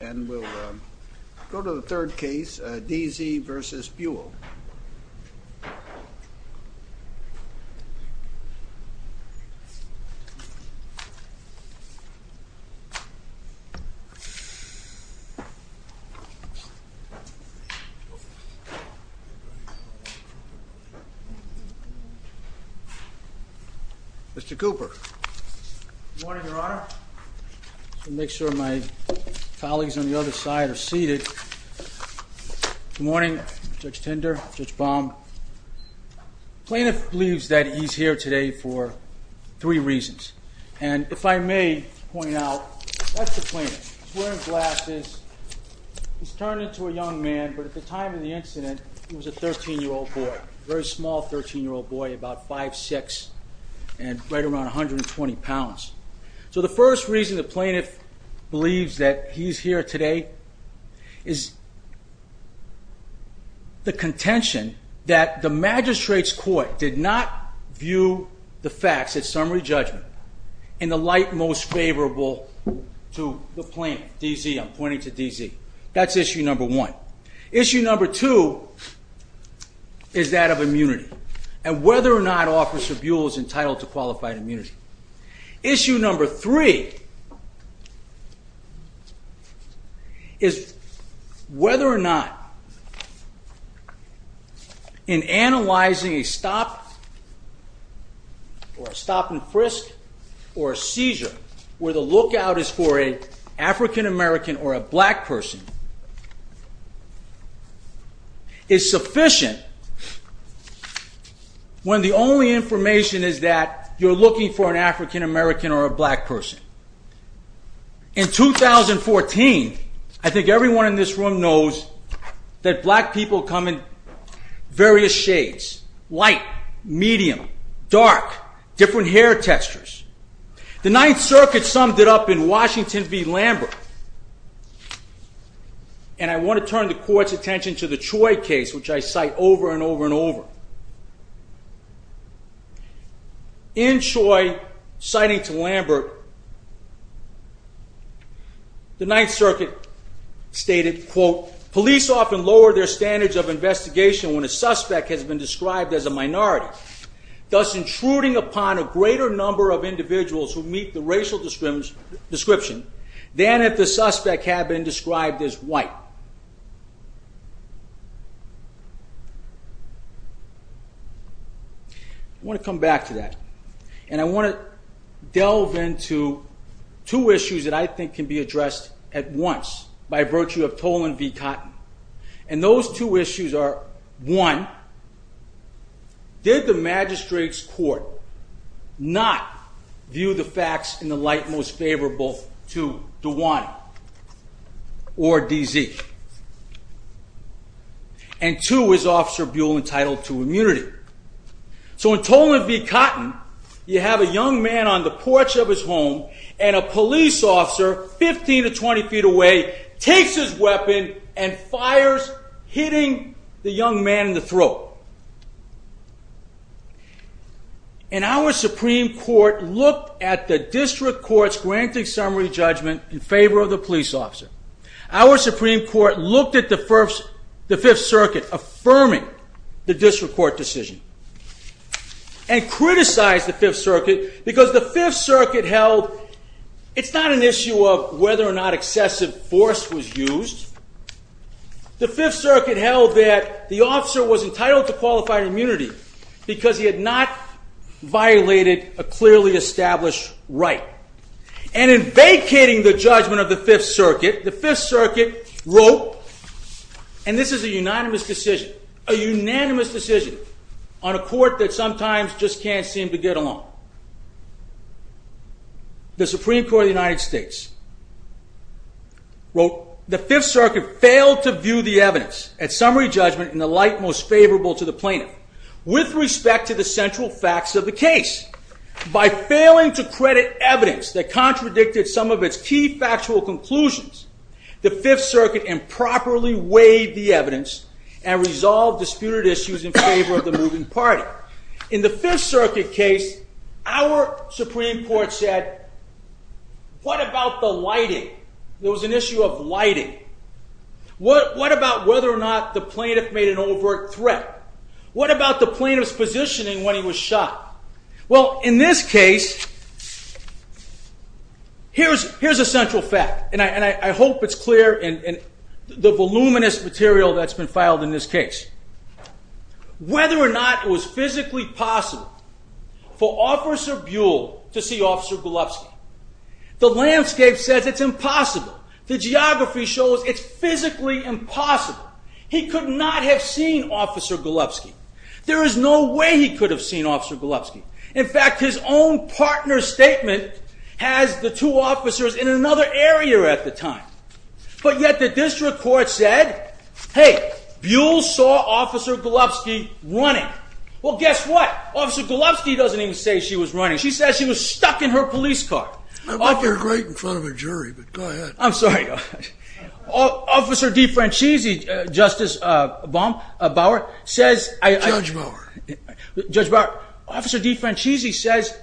And we'll go to the third case, D. Z. v. Buell. Mr. Cooper. Good morning, Your Honor. I'll make sure my colleagues on the other side are seated. Good morning, Judge Tender, Judge Baum. The plaintiff believes that he's here today for three reasons. And if I may point out, that's the plaintiff. He's wearing glasses. He's turned into a young man, but at the time of the incident, he was a 13-year-old boy, a very small 13-year-old boy, about 5'6", and right around 120 pounds. So the first reason the plaintiff believes that he's here today is the contention that the magistrate's court did not view the facts at summary judgment in the light most favorable to the plaintiff. D. Z. I'm pointing to D. Z. That's issue number one. Issue number two is that of immunity and whether or not Officer Buell is entitled to qualified immunity. Issue number three is whether or not in analyzing a stop or a stop and frisk or a seizure where the lookout is for an African-American or a black person is sufficient when the only information is that you're looking for an African-American or a black person. In 2014, I think everyone in this room knows that black people come in various shades, white, medium, dark, different hair textures. The Ninth Circuit summed it up in Washington v. Lambert and I want to turn the court's attention to the Choi case which I cite over and over and over. In Choi, citing to Lambert, the Ninth Circuit stated, quote, police often lower their standards of investigation when a suspect has been described as a minority, thus intruding upon a greater number of individuals who meet the racial description than if the suspect had been described as white. I want to come back to that and I want to delve into two issues that I think can be addressed at once by virtue of Tolan v. Cotton. And those two issues are, one, did the magistrate's court not view the facts in the light most favorable to DeWane or D.Z.? And two, is Officer Buell entitled to immunity? So in Tolan v. Cotton, you have a young man on the porch of his home and a police officer 15 to 20 feet away takes his weapon and fires, hitting the young man in the throat. And our Supreme Court looked at the district court's granting summary judgment in favor of the police officer. Our Supreme Court looked at the Fifth Circuit affirming the district court decision and criticized the Fifth Circuit because the Fifth Circuit held it's not an issue of whether or not excessive force was used. The Fifth Circuit held that the officer was entitled to qualified immunity because he had not violated a clearly established right. And in vacating the judgment of the Fifth Circuit, the Fifth Circuit wrote, and this is a unanimous decision, a unanimous decision on a court that sometimes just can't seem to get along. The Supreme Court of the United States wrote the Fifth Circuit failed to view the evidence at summary judgment in the light most favorable to the plaintiff with respect to the central facts of the case. By failing to credit evidence that contradicted some of its key factual conclusions, the Fifth Circuit improperly weighed the evidence and resolved disputed issues in favor of the moving party. In the Fifth Circuit case, our Supreme Court said, what about the lighting? There was an issue of lighting. What about whether or not the plaintiff made an overt threat? What about the plaintiff's positioning when he was shot? Well, in this case, here's a central fact, and I hope it's clear in the voluminous material that's been filed in this case. Whether or not it was physically possible for Officer Buell to see Officer Golubsky. The landscape says it's impossible. The geography shows it's physically impossible. He could not have seen Officer Golubsky. There is no way he could have seen Officer Golubsky. In fact, his own partner's statement has the two officers in another area at the time. But yet the district court said, hey, Buell saw Officer Golubsky running. Well, guess what? Officer Golubsky doesn't even say she was running. She says she was stuck in her police car. I'm sorry. Officer DeFranchisi, Justice Bauer, says... Judge Bauer. Officer DeFranchisi says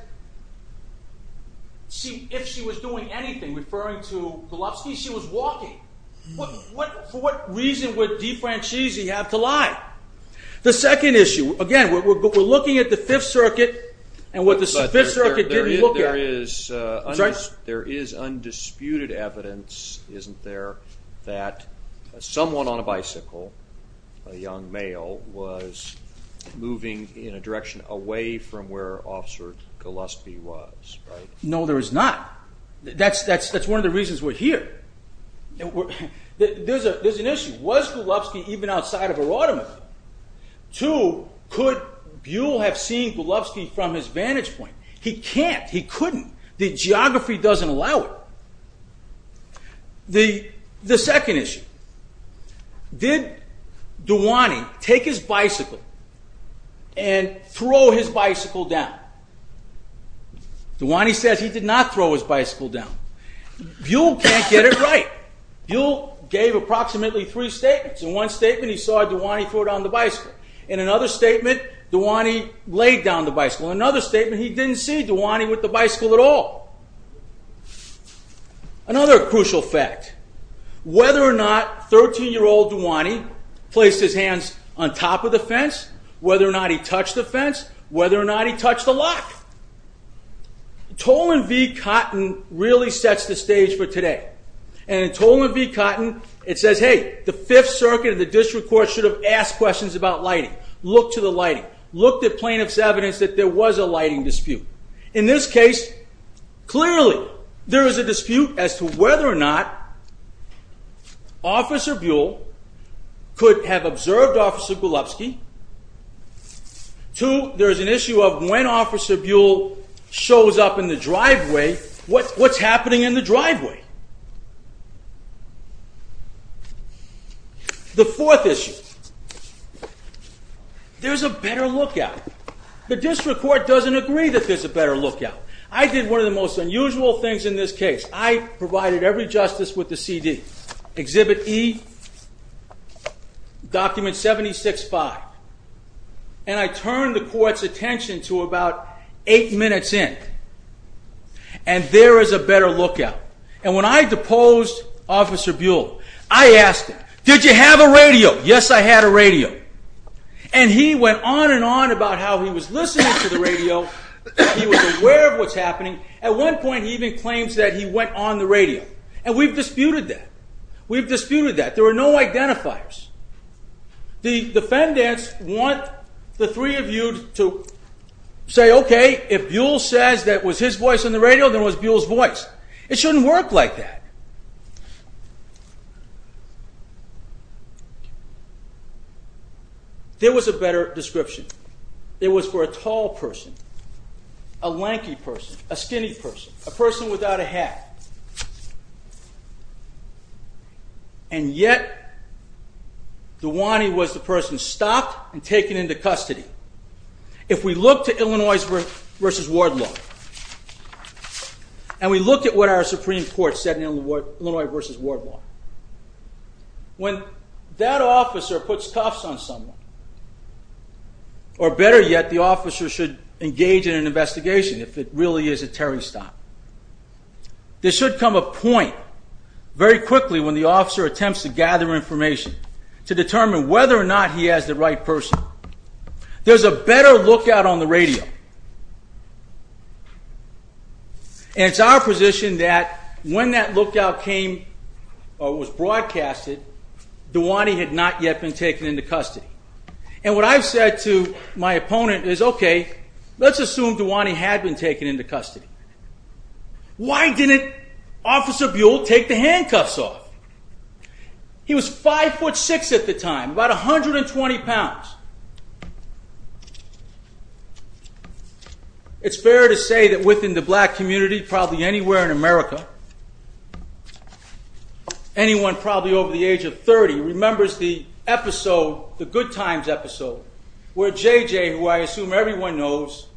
if she was doing anything, referring to Golubsky, she was walking. For what reason would DeFranchisi have to lie? The second issue, again, we're looking at the Fifth Circuit and what the Fifth Circuit didn't look at. There is undisputed evidence, isn't there, that someone on a bicycle, a young male, was moving in a direction away from where Officer Golubsky was, right? No, there is not. That's one of the reasons we're here. There's an issue. One, was Golubsky even outside of her automobile? Two, could Buell have seen Golubsky from his vantage point? He can't. He couldn't. The geography doesn't allow it. The second issue. Did DeWane take his bicycle and throw his bicycle down? DeWane says he did not throw his bicycle down. Buell can't get it right. Buell gave approximately three statements. In one statement, he saw DeWane throw down the bicycle. In another statement, DeWane laid down the bicycle. In another statement, he didn't see DeWane with the bicycle at all. Another crucial fact. Whether or not 13-year-old DeWane placed his hands on top of the fence, whether or not he touched the fence, whether or not he touched the lock. Toland v. Cotton really sets the stage for today. In Toland v. Cotton, it says, hey, the 5th Circuit and the District Court should have asked questions about lighting. Looked at plaintiff's evidence that there was a lighting dispute. In this case, clearly there is a dispute as to whether or not Officer Buell could have observed Officer Golubsky. Two, there's an issue of when Officer Buell shows up in the driveway, what's happening in the driveway? The fourth issue. There's a better lookout. The District Court doesn't agree that there's a better lookout. I did one of the most unusual things in this case. I provided every justice with the CD. Exhibit E, document 76-5. And I turned the court's attention to about 8 minutes in. And there is a better lookout. And when I deposed Officer Buell, I asked him, did you have a radio? Yes, I had a radio. And he went on and on about how he was listening to the radio. He was aware of what's happening. At one point, he even claims that he went on the radio. And we've disputed that. We've disputed that. There are no identifiers. The defendants want the three of you to say, okay, if Buell says that was his voice on the radio, then it was Buell's voice. It shouldn't work like that. There was a better description. It was for a tall person, a lanky person, a skinny person, a person without a hat. And yet DeWane was the person stopped and taken into custody. If we look to Illinois v. Wardlaw and we look at what our Supreme Court said in Illinois v. Wardlaw, when that officer puts cuffs on someone or better yet, the officer should engage in an investigation if it really is a carry stop. There should come a point very quickly when the officer attempts to gather information to determine whether or not he has the right person. There's a better lookout on the radio. And it's our position that when that lookout came or was broadcasted, DeWane had not yet been taken into custody. And what I've said to my opponent is, okay, let's assume DeWane had been taken into custody. Why didn't Officer Buell take the handcuffs off? He was 5'6 at the time, about 120 pounds. It's fair to say that within the black community, probably anywhere in America, anyone probably over the age of 30 remembers the episode, the Good Times episode, where J.J., who I assume everyone knows,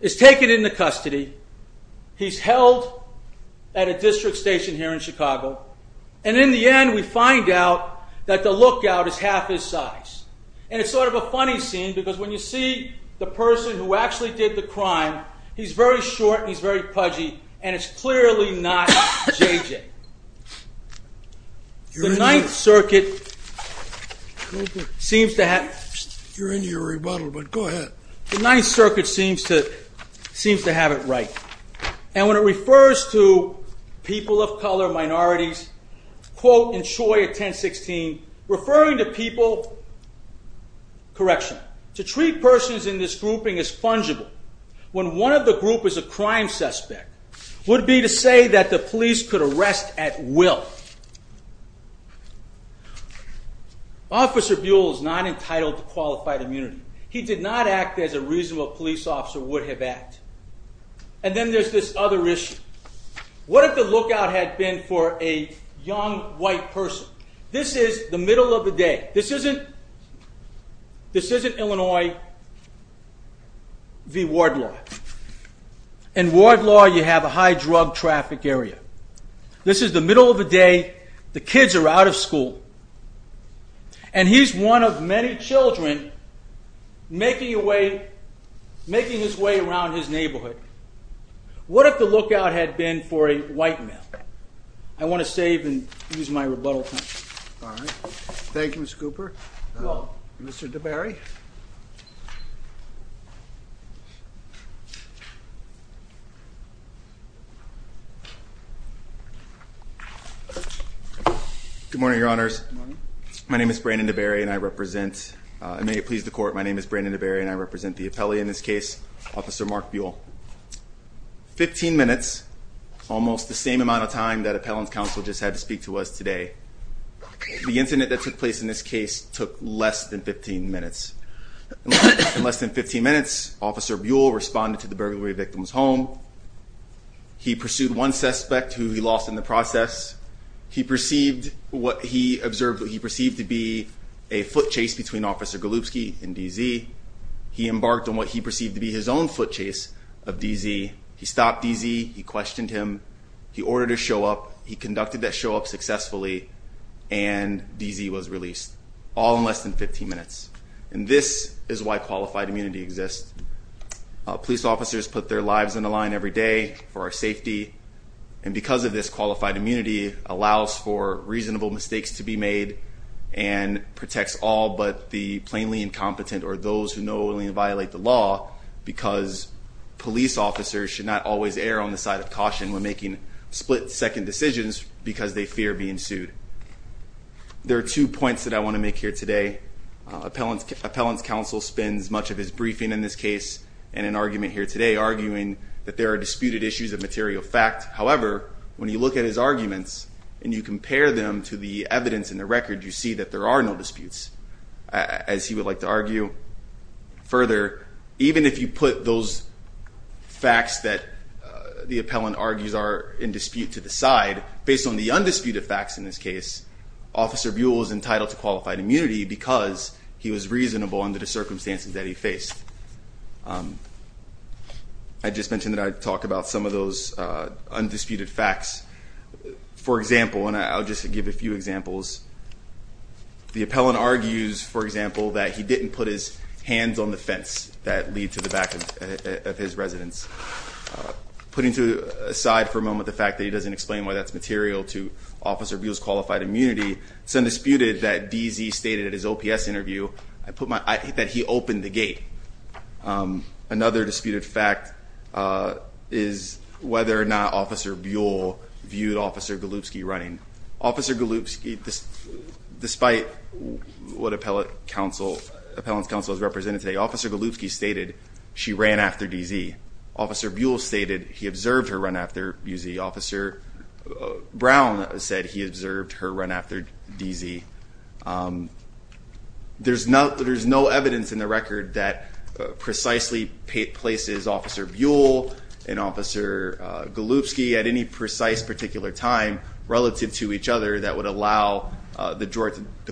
is taken into custody. He's held at a district station here in Chicago. And in the end, we find out that the lookout is half his size. And it's sort of a funny scene because when you see the person who actually did the crime, he's very short and he's very pudgy and it's clearly not J.J. The Ninth Circuit seems to have... You're into your rebuttal, but go ahead. The Ninth Circuit seems to have it right. And when it refers to people of color, minorities, quote in Choi of 1016, referring to people... Correction. To treat persons in this grouping as fungible when one of the group is a crime suspect would be to say that the police could arrest at will. Officer Buell is not entitled to qualified immunity. He did not act as a reasonable police officer would have acted. And then there's this other issue. What if the lookout had been for a young white person? This is the middle of the day. This isn't... This isn't Illinois v. Wardlaw. In Wardlaw, you have a high drug traffic area. This is the middle of the day. The kids are out of school. And he's one of many children making his way around his neighborhood. What if the lookout had been for a white male? I want to save and use my rebuttal time. All right. Thank you, Mr. Cooper. Mr. DeBerry. Good morning, Your Honors. My name is Brandon DeBerry, and I represent... And may it please the Court, my name is Brandon DeBerry, and I represent the appellee in this case, Officer Mark Buell. 15 minutes, almost the same amount of time that Appellant's Counsel just had to speak to us today. The incident that took place in this case took less than 15 minutes. In less than 15 minutes, Officer Buell responded to the burglary victim's home. He pursued one suspect who he lost in the process. He perceived what he observed... He perceived to be a foot chase between Officer Golubsky and DZ. He embarked on what he perceived to be his own foot chase of DZ. He stopped DZ, he questioned him, he ordered a show-up, he conducted that show-up successfully, and DZ was released, all in less than 15 minutes. And this is why qualified immunity exists. Police officers put their lives on the line every day for our safety, and because of this, qualified immunity allows for reasonable mistakes to be made and protects all but the plainly incompetent or those who knowingly violate the law because police officers should not always err on the side of caution when making split-second decisions because they fear being sued. There are two points that I want to make here today. Appellant's counsel spends much of his briefing in this case in an argument here today, arguing that there are disputed issues of material fact. However, when you look at his arguments and you compare them to the evidence in the record, you see that there are no disputes, as he would like to argue. Further, even if you put those facts that the appellant argues are in dispute to the side, based on the undisputed facts in this case, Officer Buell is entitled to qualified immunity because he was reasonable under the circumstances that he faced. I just mentioned that I talk about some of those undisputed facts. For example, and I'll just give a few examples, the appellant argues, for example, that he didn't put his hands on the fence that lead to the back of his residence. Putting aside for a moment the fact that he doesn't explain why that's material to Officer Buell's qualified immunity, it's undisputed that DZ stated in his OPS interview that he opened the gate. Another disputed fact is whether or not Officer Buell viewed Officer Golubsky running. Officer Golubsky, despite what Appellant's counsel has represented today, Officer Golubsky stated she ran after DZ. Officer Buell stated he observed her run after BZ. Officer Brown said he observed her run after DZ. There's no evidence in the record that precisely places Officer Buell and Officer Golubsky at any precise particular time relative to each other that would allow the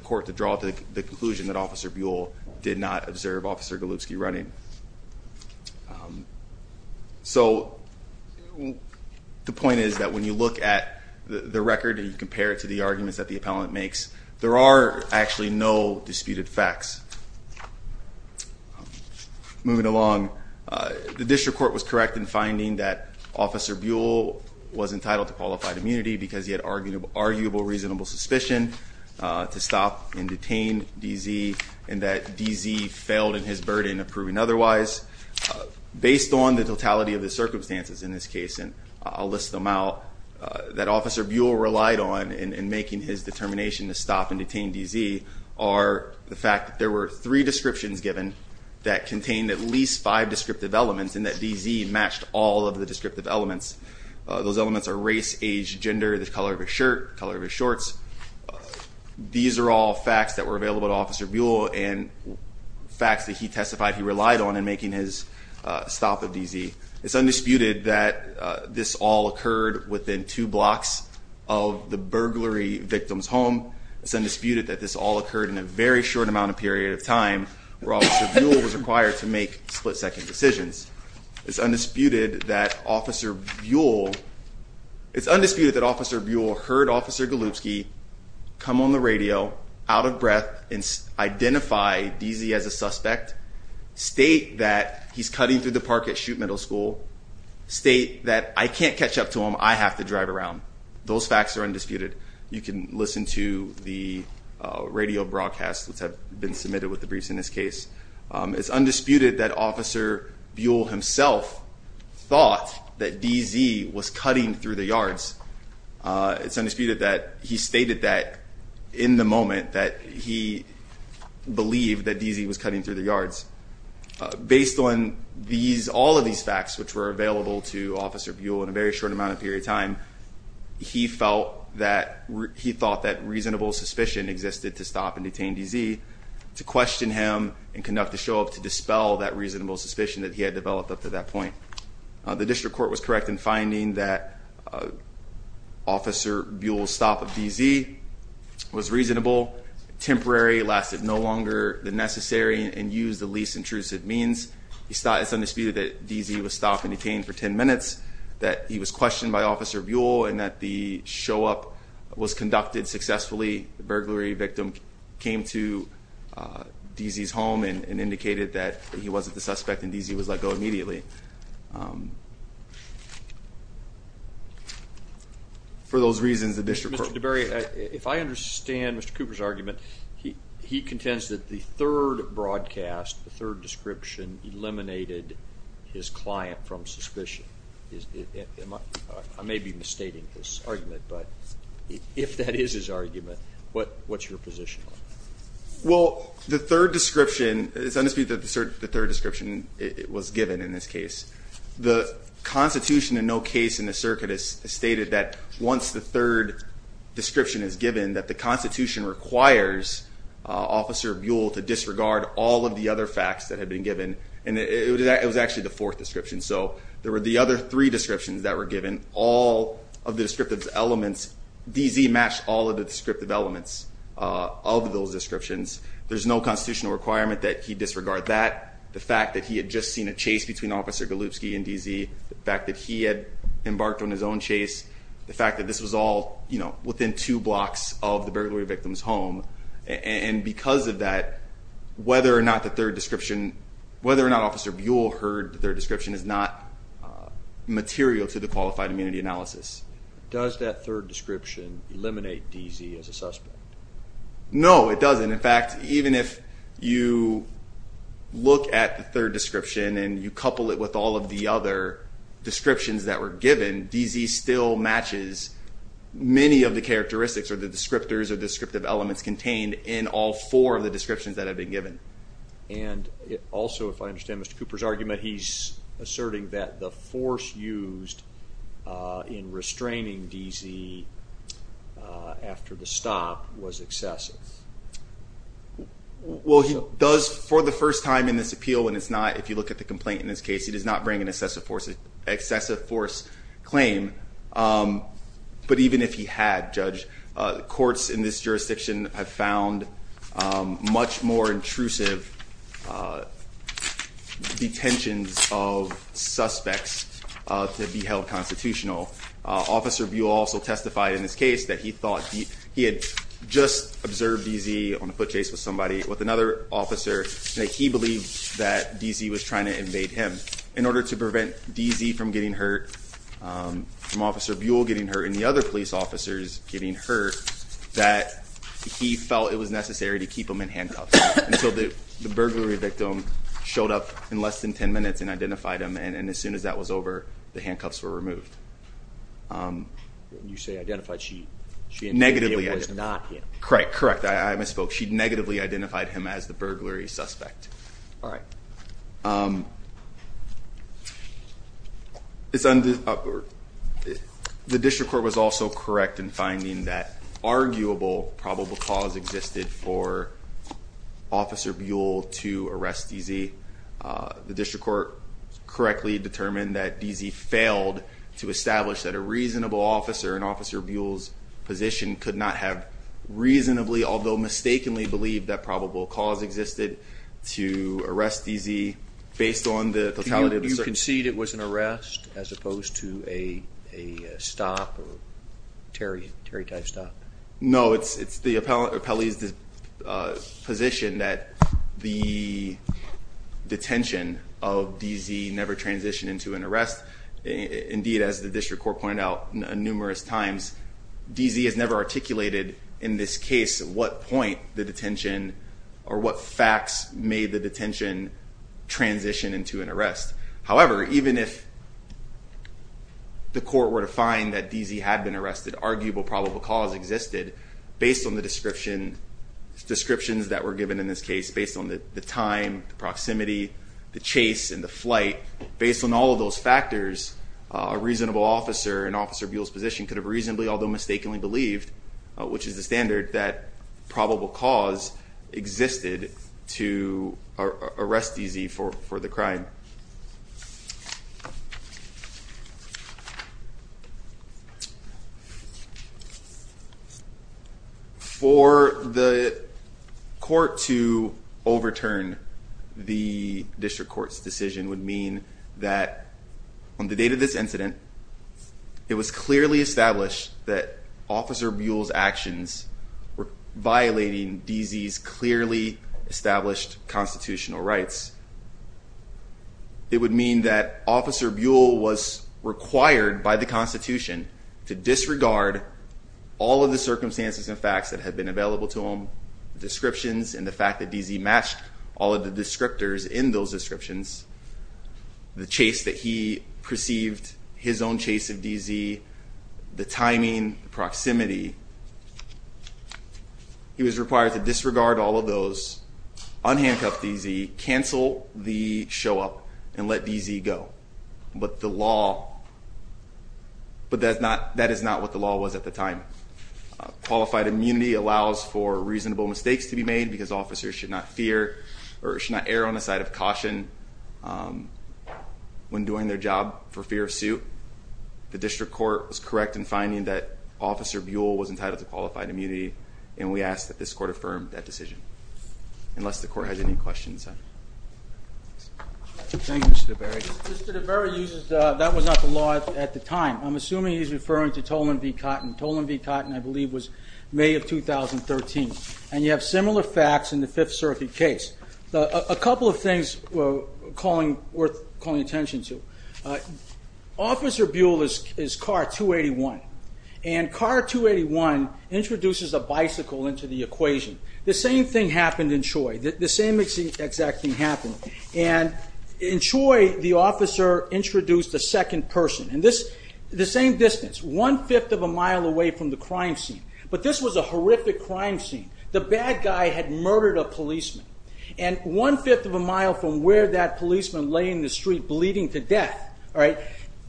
court to draw to the conclusion that Officer Buell did not observe Officer Golubsky running. So the point is that when you look at the record and you compare it to the arguments that the Appellant makes, there are actually no disputed facts. Moving along, the District Court was correct in finding that Officer Buell was entitled to qualified immunity because he had arguable reasonable suspicion to stop and detain DZ and that DZ failed in his burden of proving otherwise. Based on the totality of the circumstances in this case, and I'll list them out, that Officer Buell relied on in making his determination to stop and detain DZ are the fact that there were three descriptions given that contained at least five descriptive elements and that DZ matched all of the descriptive elements. Those elements are race, age, gender, the color of his shirt, the color of his shorts. These are all facts that were available to Officer Buell and facts that he testified he relied on in making his stop of DZ. It's undisputed that this all occurred within two blocks of the burglary victim's home. It's undisputed that this all occurred in a very short amount of period of time where Officer Buell was required to make split-second decisions. It's undisputed that Officer Buell heard Officer Golubsky come on the radio out of breath and identify DZ as a suspect, state that he's cutting through the park at Shute Middle School, state that I can't catch up to him, I have to drive around. Those facts are undisputed. You can listen to the radio broadcast that's been submitted with the briefs in this case. It's undisputed that Officer Buell himself thought that DZ was cutting through the yards. It's undisputed that he stated that in the moment that he believed that DZ was cutting through the yards. Based on all of these facts which were available to Officer Buell in a very short amount of period of time, he thought that reasonable suspicion existed to stop and detain DZ, to question him and conduct a show of to dispel that reasonable suspicion that he had developed up to that point. The district court was correct in finding that Officer Buell's stop of DZ was reasonable, temporary, lasted no longer than necessary and used the least intrusive means. It's undisputed that DZ was stopped and detained for 10 minutes, that he was questioned by Officer Buell and that the show-up was conducted successfully. The burglary victim came to DZ's home and indicated that he wasn't the suspect and DZ was let go immediately. For those reasons, the district court... Mr. DeBerry, if I understand Mr. Cooper's argument, he contends that the third broadcast, the third description eliminated his client from suspicion. I may be misstating this argument, but if that is his argument, what's your position on it? Well, the third description, it's undisputed that the third description was given in this case. The Constitution in no case in the circuit has stated that once the third description is given, that the Constitution requires Officer Buell to disregard all of the other facts that had been given, and it was actually the fourth description, so there were the other three descriptions that were given. All of the descriptive elements, DZ matched all of the descriptive elements of those descriptions. There's no constitutional requirement that he disregard that. The fact that he had just seen a chase between Officer Galupski and DZ, the fact that he had embarked on his own chase, the fact that this was all within two blocks of the burglary victim's home, and because of that, whether or not the third description, whether or not Officer Buell heard the third description is not material to the qualified immunity analysis. Does that third description eliminate DZ as a suspect? No, it doesn't. In fact, even if you look at the third description and you couple it with all of the other descriptions that were given, DZ still matches many of the characteristics or the descriptors or descriptive elements contained in all four of the descriptions that had been given. And also, if I understand Mr. Cooper's argument, he's asserting that the force used in restraining DZ after the stop was excessive. Well, he does for the first time in this appeal when it's not, if you look at the complaint in this case, he does not bring an excessive force claim, but even if he had, Judge, courts in this jurisdiction have found much more intrusive detentions of suspects to be held constitutional. Officer Buell also testified in this case that he thought he had just observed DZ on a foot chase with somebody, with another officer, and that he believed that DZ was trying to invade him. In order to prevent DZ from getting hurt, from Officer Buell getting hurt and the other police officers getting hurt, that he felt it was necessary to keep them in handcuffs until the burglary victim showed up in less than 10 minutes and identified him. And as soon as that was over, the handcuffs were removed. You say identified. She was not him. Correct. I misspoke. She negatively identified him as the burglary suspect. All right. The district court was also correct in finding that there was an arguable probable cause existed for Officer Buell to arrest DZ. The district court correctly determined that DZ failed to establish that a reasonable officer in Officer Buell's position could not have reasonably, although mistakenly, believed that probable cause existed to arrest DZ based on the totality of the circumstances. Did you concede it was an arrest as opposed to a stop, a Terry type stop? No, it's the appellee's position that the detention of DZ never transitioned into an arrest. Indeed, as the district court pointed out numerous times, DZ has never articulated in this case what point the detention or what facts made the detention transition into an arrest. However, even if the court were to find that DZ had been arrested, arguable probable cause existed based on the description, descriptions that were given in this case, based on the time, the proximity, the chase and the flight. Based on all of those factors, a reasonable officer in Officer Buell's position could have reasonably, although mistakenly, believed, which is the standard, that probable cause existed to arrest DZ for the crime. For the court to overturn the district court's decision would mean that on the date of this incident, it was clearly established that Officer Buell's actions were violating DZ's clearly established constitutional rights. It would mean that Officer Buell was required by the Constitution to disregard all of the circumstances and facts that had been available to him, descriptions and the fact that DZ matched all of the descriptors in those descriptions, the chase that he perceived, his own chase of DZ, the timing, the proximity. He was required to disregard all of those, unhandcuff DZ, cancel the show-up and let DZ go. But the law, but that is not what the law was at the time. Qualified immunity allows for reasonable mistakes to be made because officers should not fear or should not err on the side of caution when doing their job for fear of suit. The district court was correct in saying that Officer Buell was entitled to qualified immunity and we ask that this court affirm that decision. Unless the court has any questions. Thank you Mr. DeBerry. Mr. DeBerry uses that was not the law at the time. I'm assuming he's referring to Tolan v. Cotton. Tolan v. Cotton I believe was May of 2013. And you have similar facts in the Fifth Circuit case. A couple of things worth calling attention to. Officer Buell is car 281 and car 281 introduces a bicycle into the equation. The same thing happened in Troy. The same exact thing happened. In Troy the officer introduced a second person. The same distance, one-fifth of a mile away from the crime scene. But this was a horrific crime scene. The bad guy had murdered a policeman. And one-fifth of a mile from where that policeman lay in the street bleeding to death.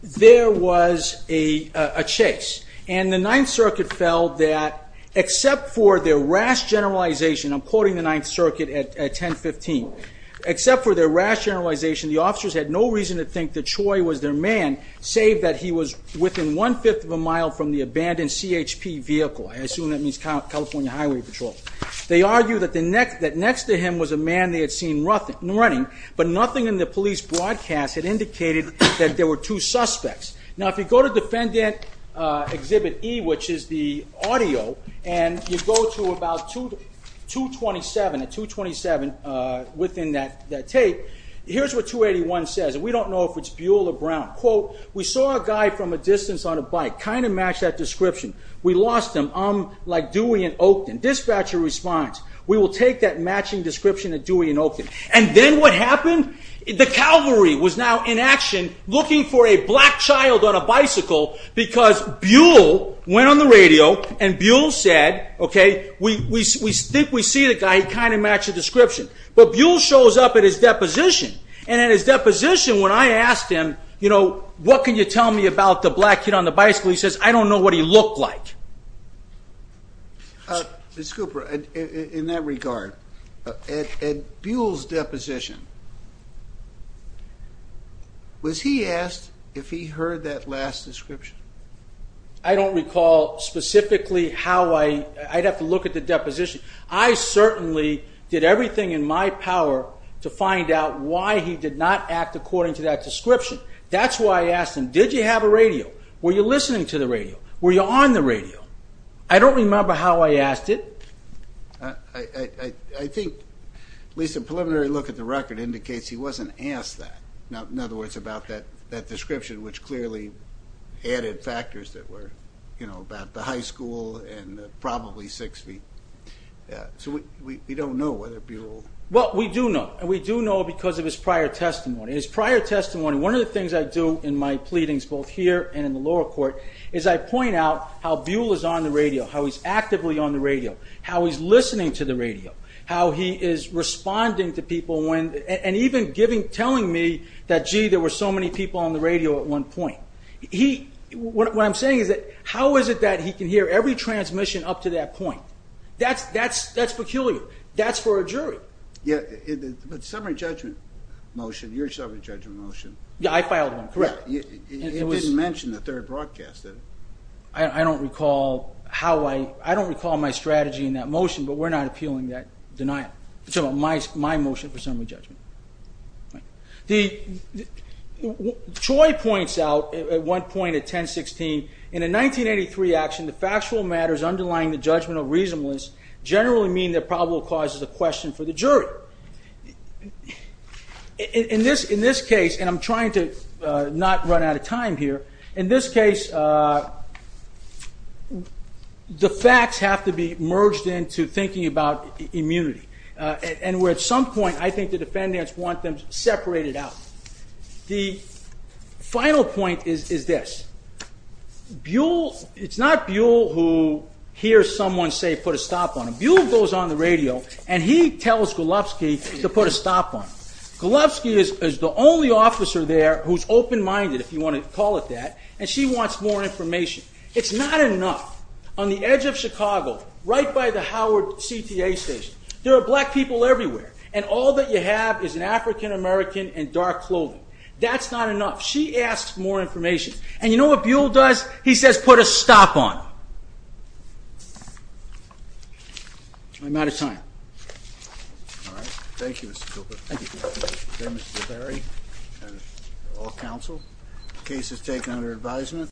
There was a chase. And the Ninth Circuit felt that except for their rash generalization. I'm quoting the Ninth Circuit at 1015. Except for their rash generalization the officers had no reason to think that Troy was their man save that he was within one-fifth of a mile from the abandoned CHP vehicle. I assume that means California Highway Patrol. They argued that next to him was the man they had seen running. But nothing in the police broadcast had indicated that there were two suspects. Now if you go to Defendant Exhibit E which is the audio and you go to about 227 within that tape. Here's what 281 says. We don't know if it's Buell or Brown. We saw a guy from a distance on a bike. Kind of matched that description. We lost him. I'm like Dewey in Oakton. Dispatcher responds. We will take that matching description of Dewey in Oakton. And then what happened? The Calvary was now in action looking for a black child on a bicycle because Buell went on the radio and Buell said we think we see the guy. He kind of matched the description. But Buell shows up at his deposition. And at his deposition when I asked him what can you tell me about the black kid on the bicycle? He says I don't know what he looked like. Ms. Cooper in that regard at Buell's deposition was he asked if he heard that last description? I don't recall specifically how I, I'd have to look at the deposition. I certainly did everything in my power to find out why he did not act according to that description. That's why I asked him did you have a radio? Were you listening to the radio? Were you on the radio? I don't remember how I asked it. I think at least a preliminary look at the record indicates he wasn't asked that. In other words about that description which clearly added factors that were about the high school and probably six feet. So we don't know whether Buell... Well we do know. And we do know because of his prior testimony. His prior here and in the lower court. As I point out how Buell is on the radio. How he's actively on the radio. How he's listening to the radio. How he is responding to people. And even telling me that gee there were so many people on the radio at one point. What I'm saying is that how is it that he can hear every transmission up to that point? That's peculiar. That's for a jury. Summary judgment motion. Your summary judgment motion. Yeah I filed one. Correct. It didn't mention the third broadcast. I don't recall how I I don't recall my strategy in that motion but we're not appealing that denial. My motion for summary judgment. Troy points out at one point at 10-16 in a 1983 action the factual matters underlying the judgment of reasonableness generally mean that probable cause is a question for the jury. In this case and I'm trying to not run out of time here in this case the facts have to be merged into thinking about immunity. And where at some point I think the defendants want them separated out. The final point is this. Buell. It's not Buell who hears someone say put a stop on him. Buell goes on the radio and he tells Golovsky to put a stop on him. Golovsky is the only officer there who's open minded if you want to call it that and she wants more information. It's not enough. On the edge of Chicago right by the Howard CTA station there are black people everywhere and all that you have is an African American in dark clothing. That's not enough. She asks more information and you know what Buell does? He says put a stop on him. I'm out of time.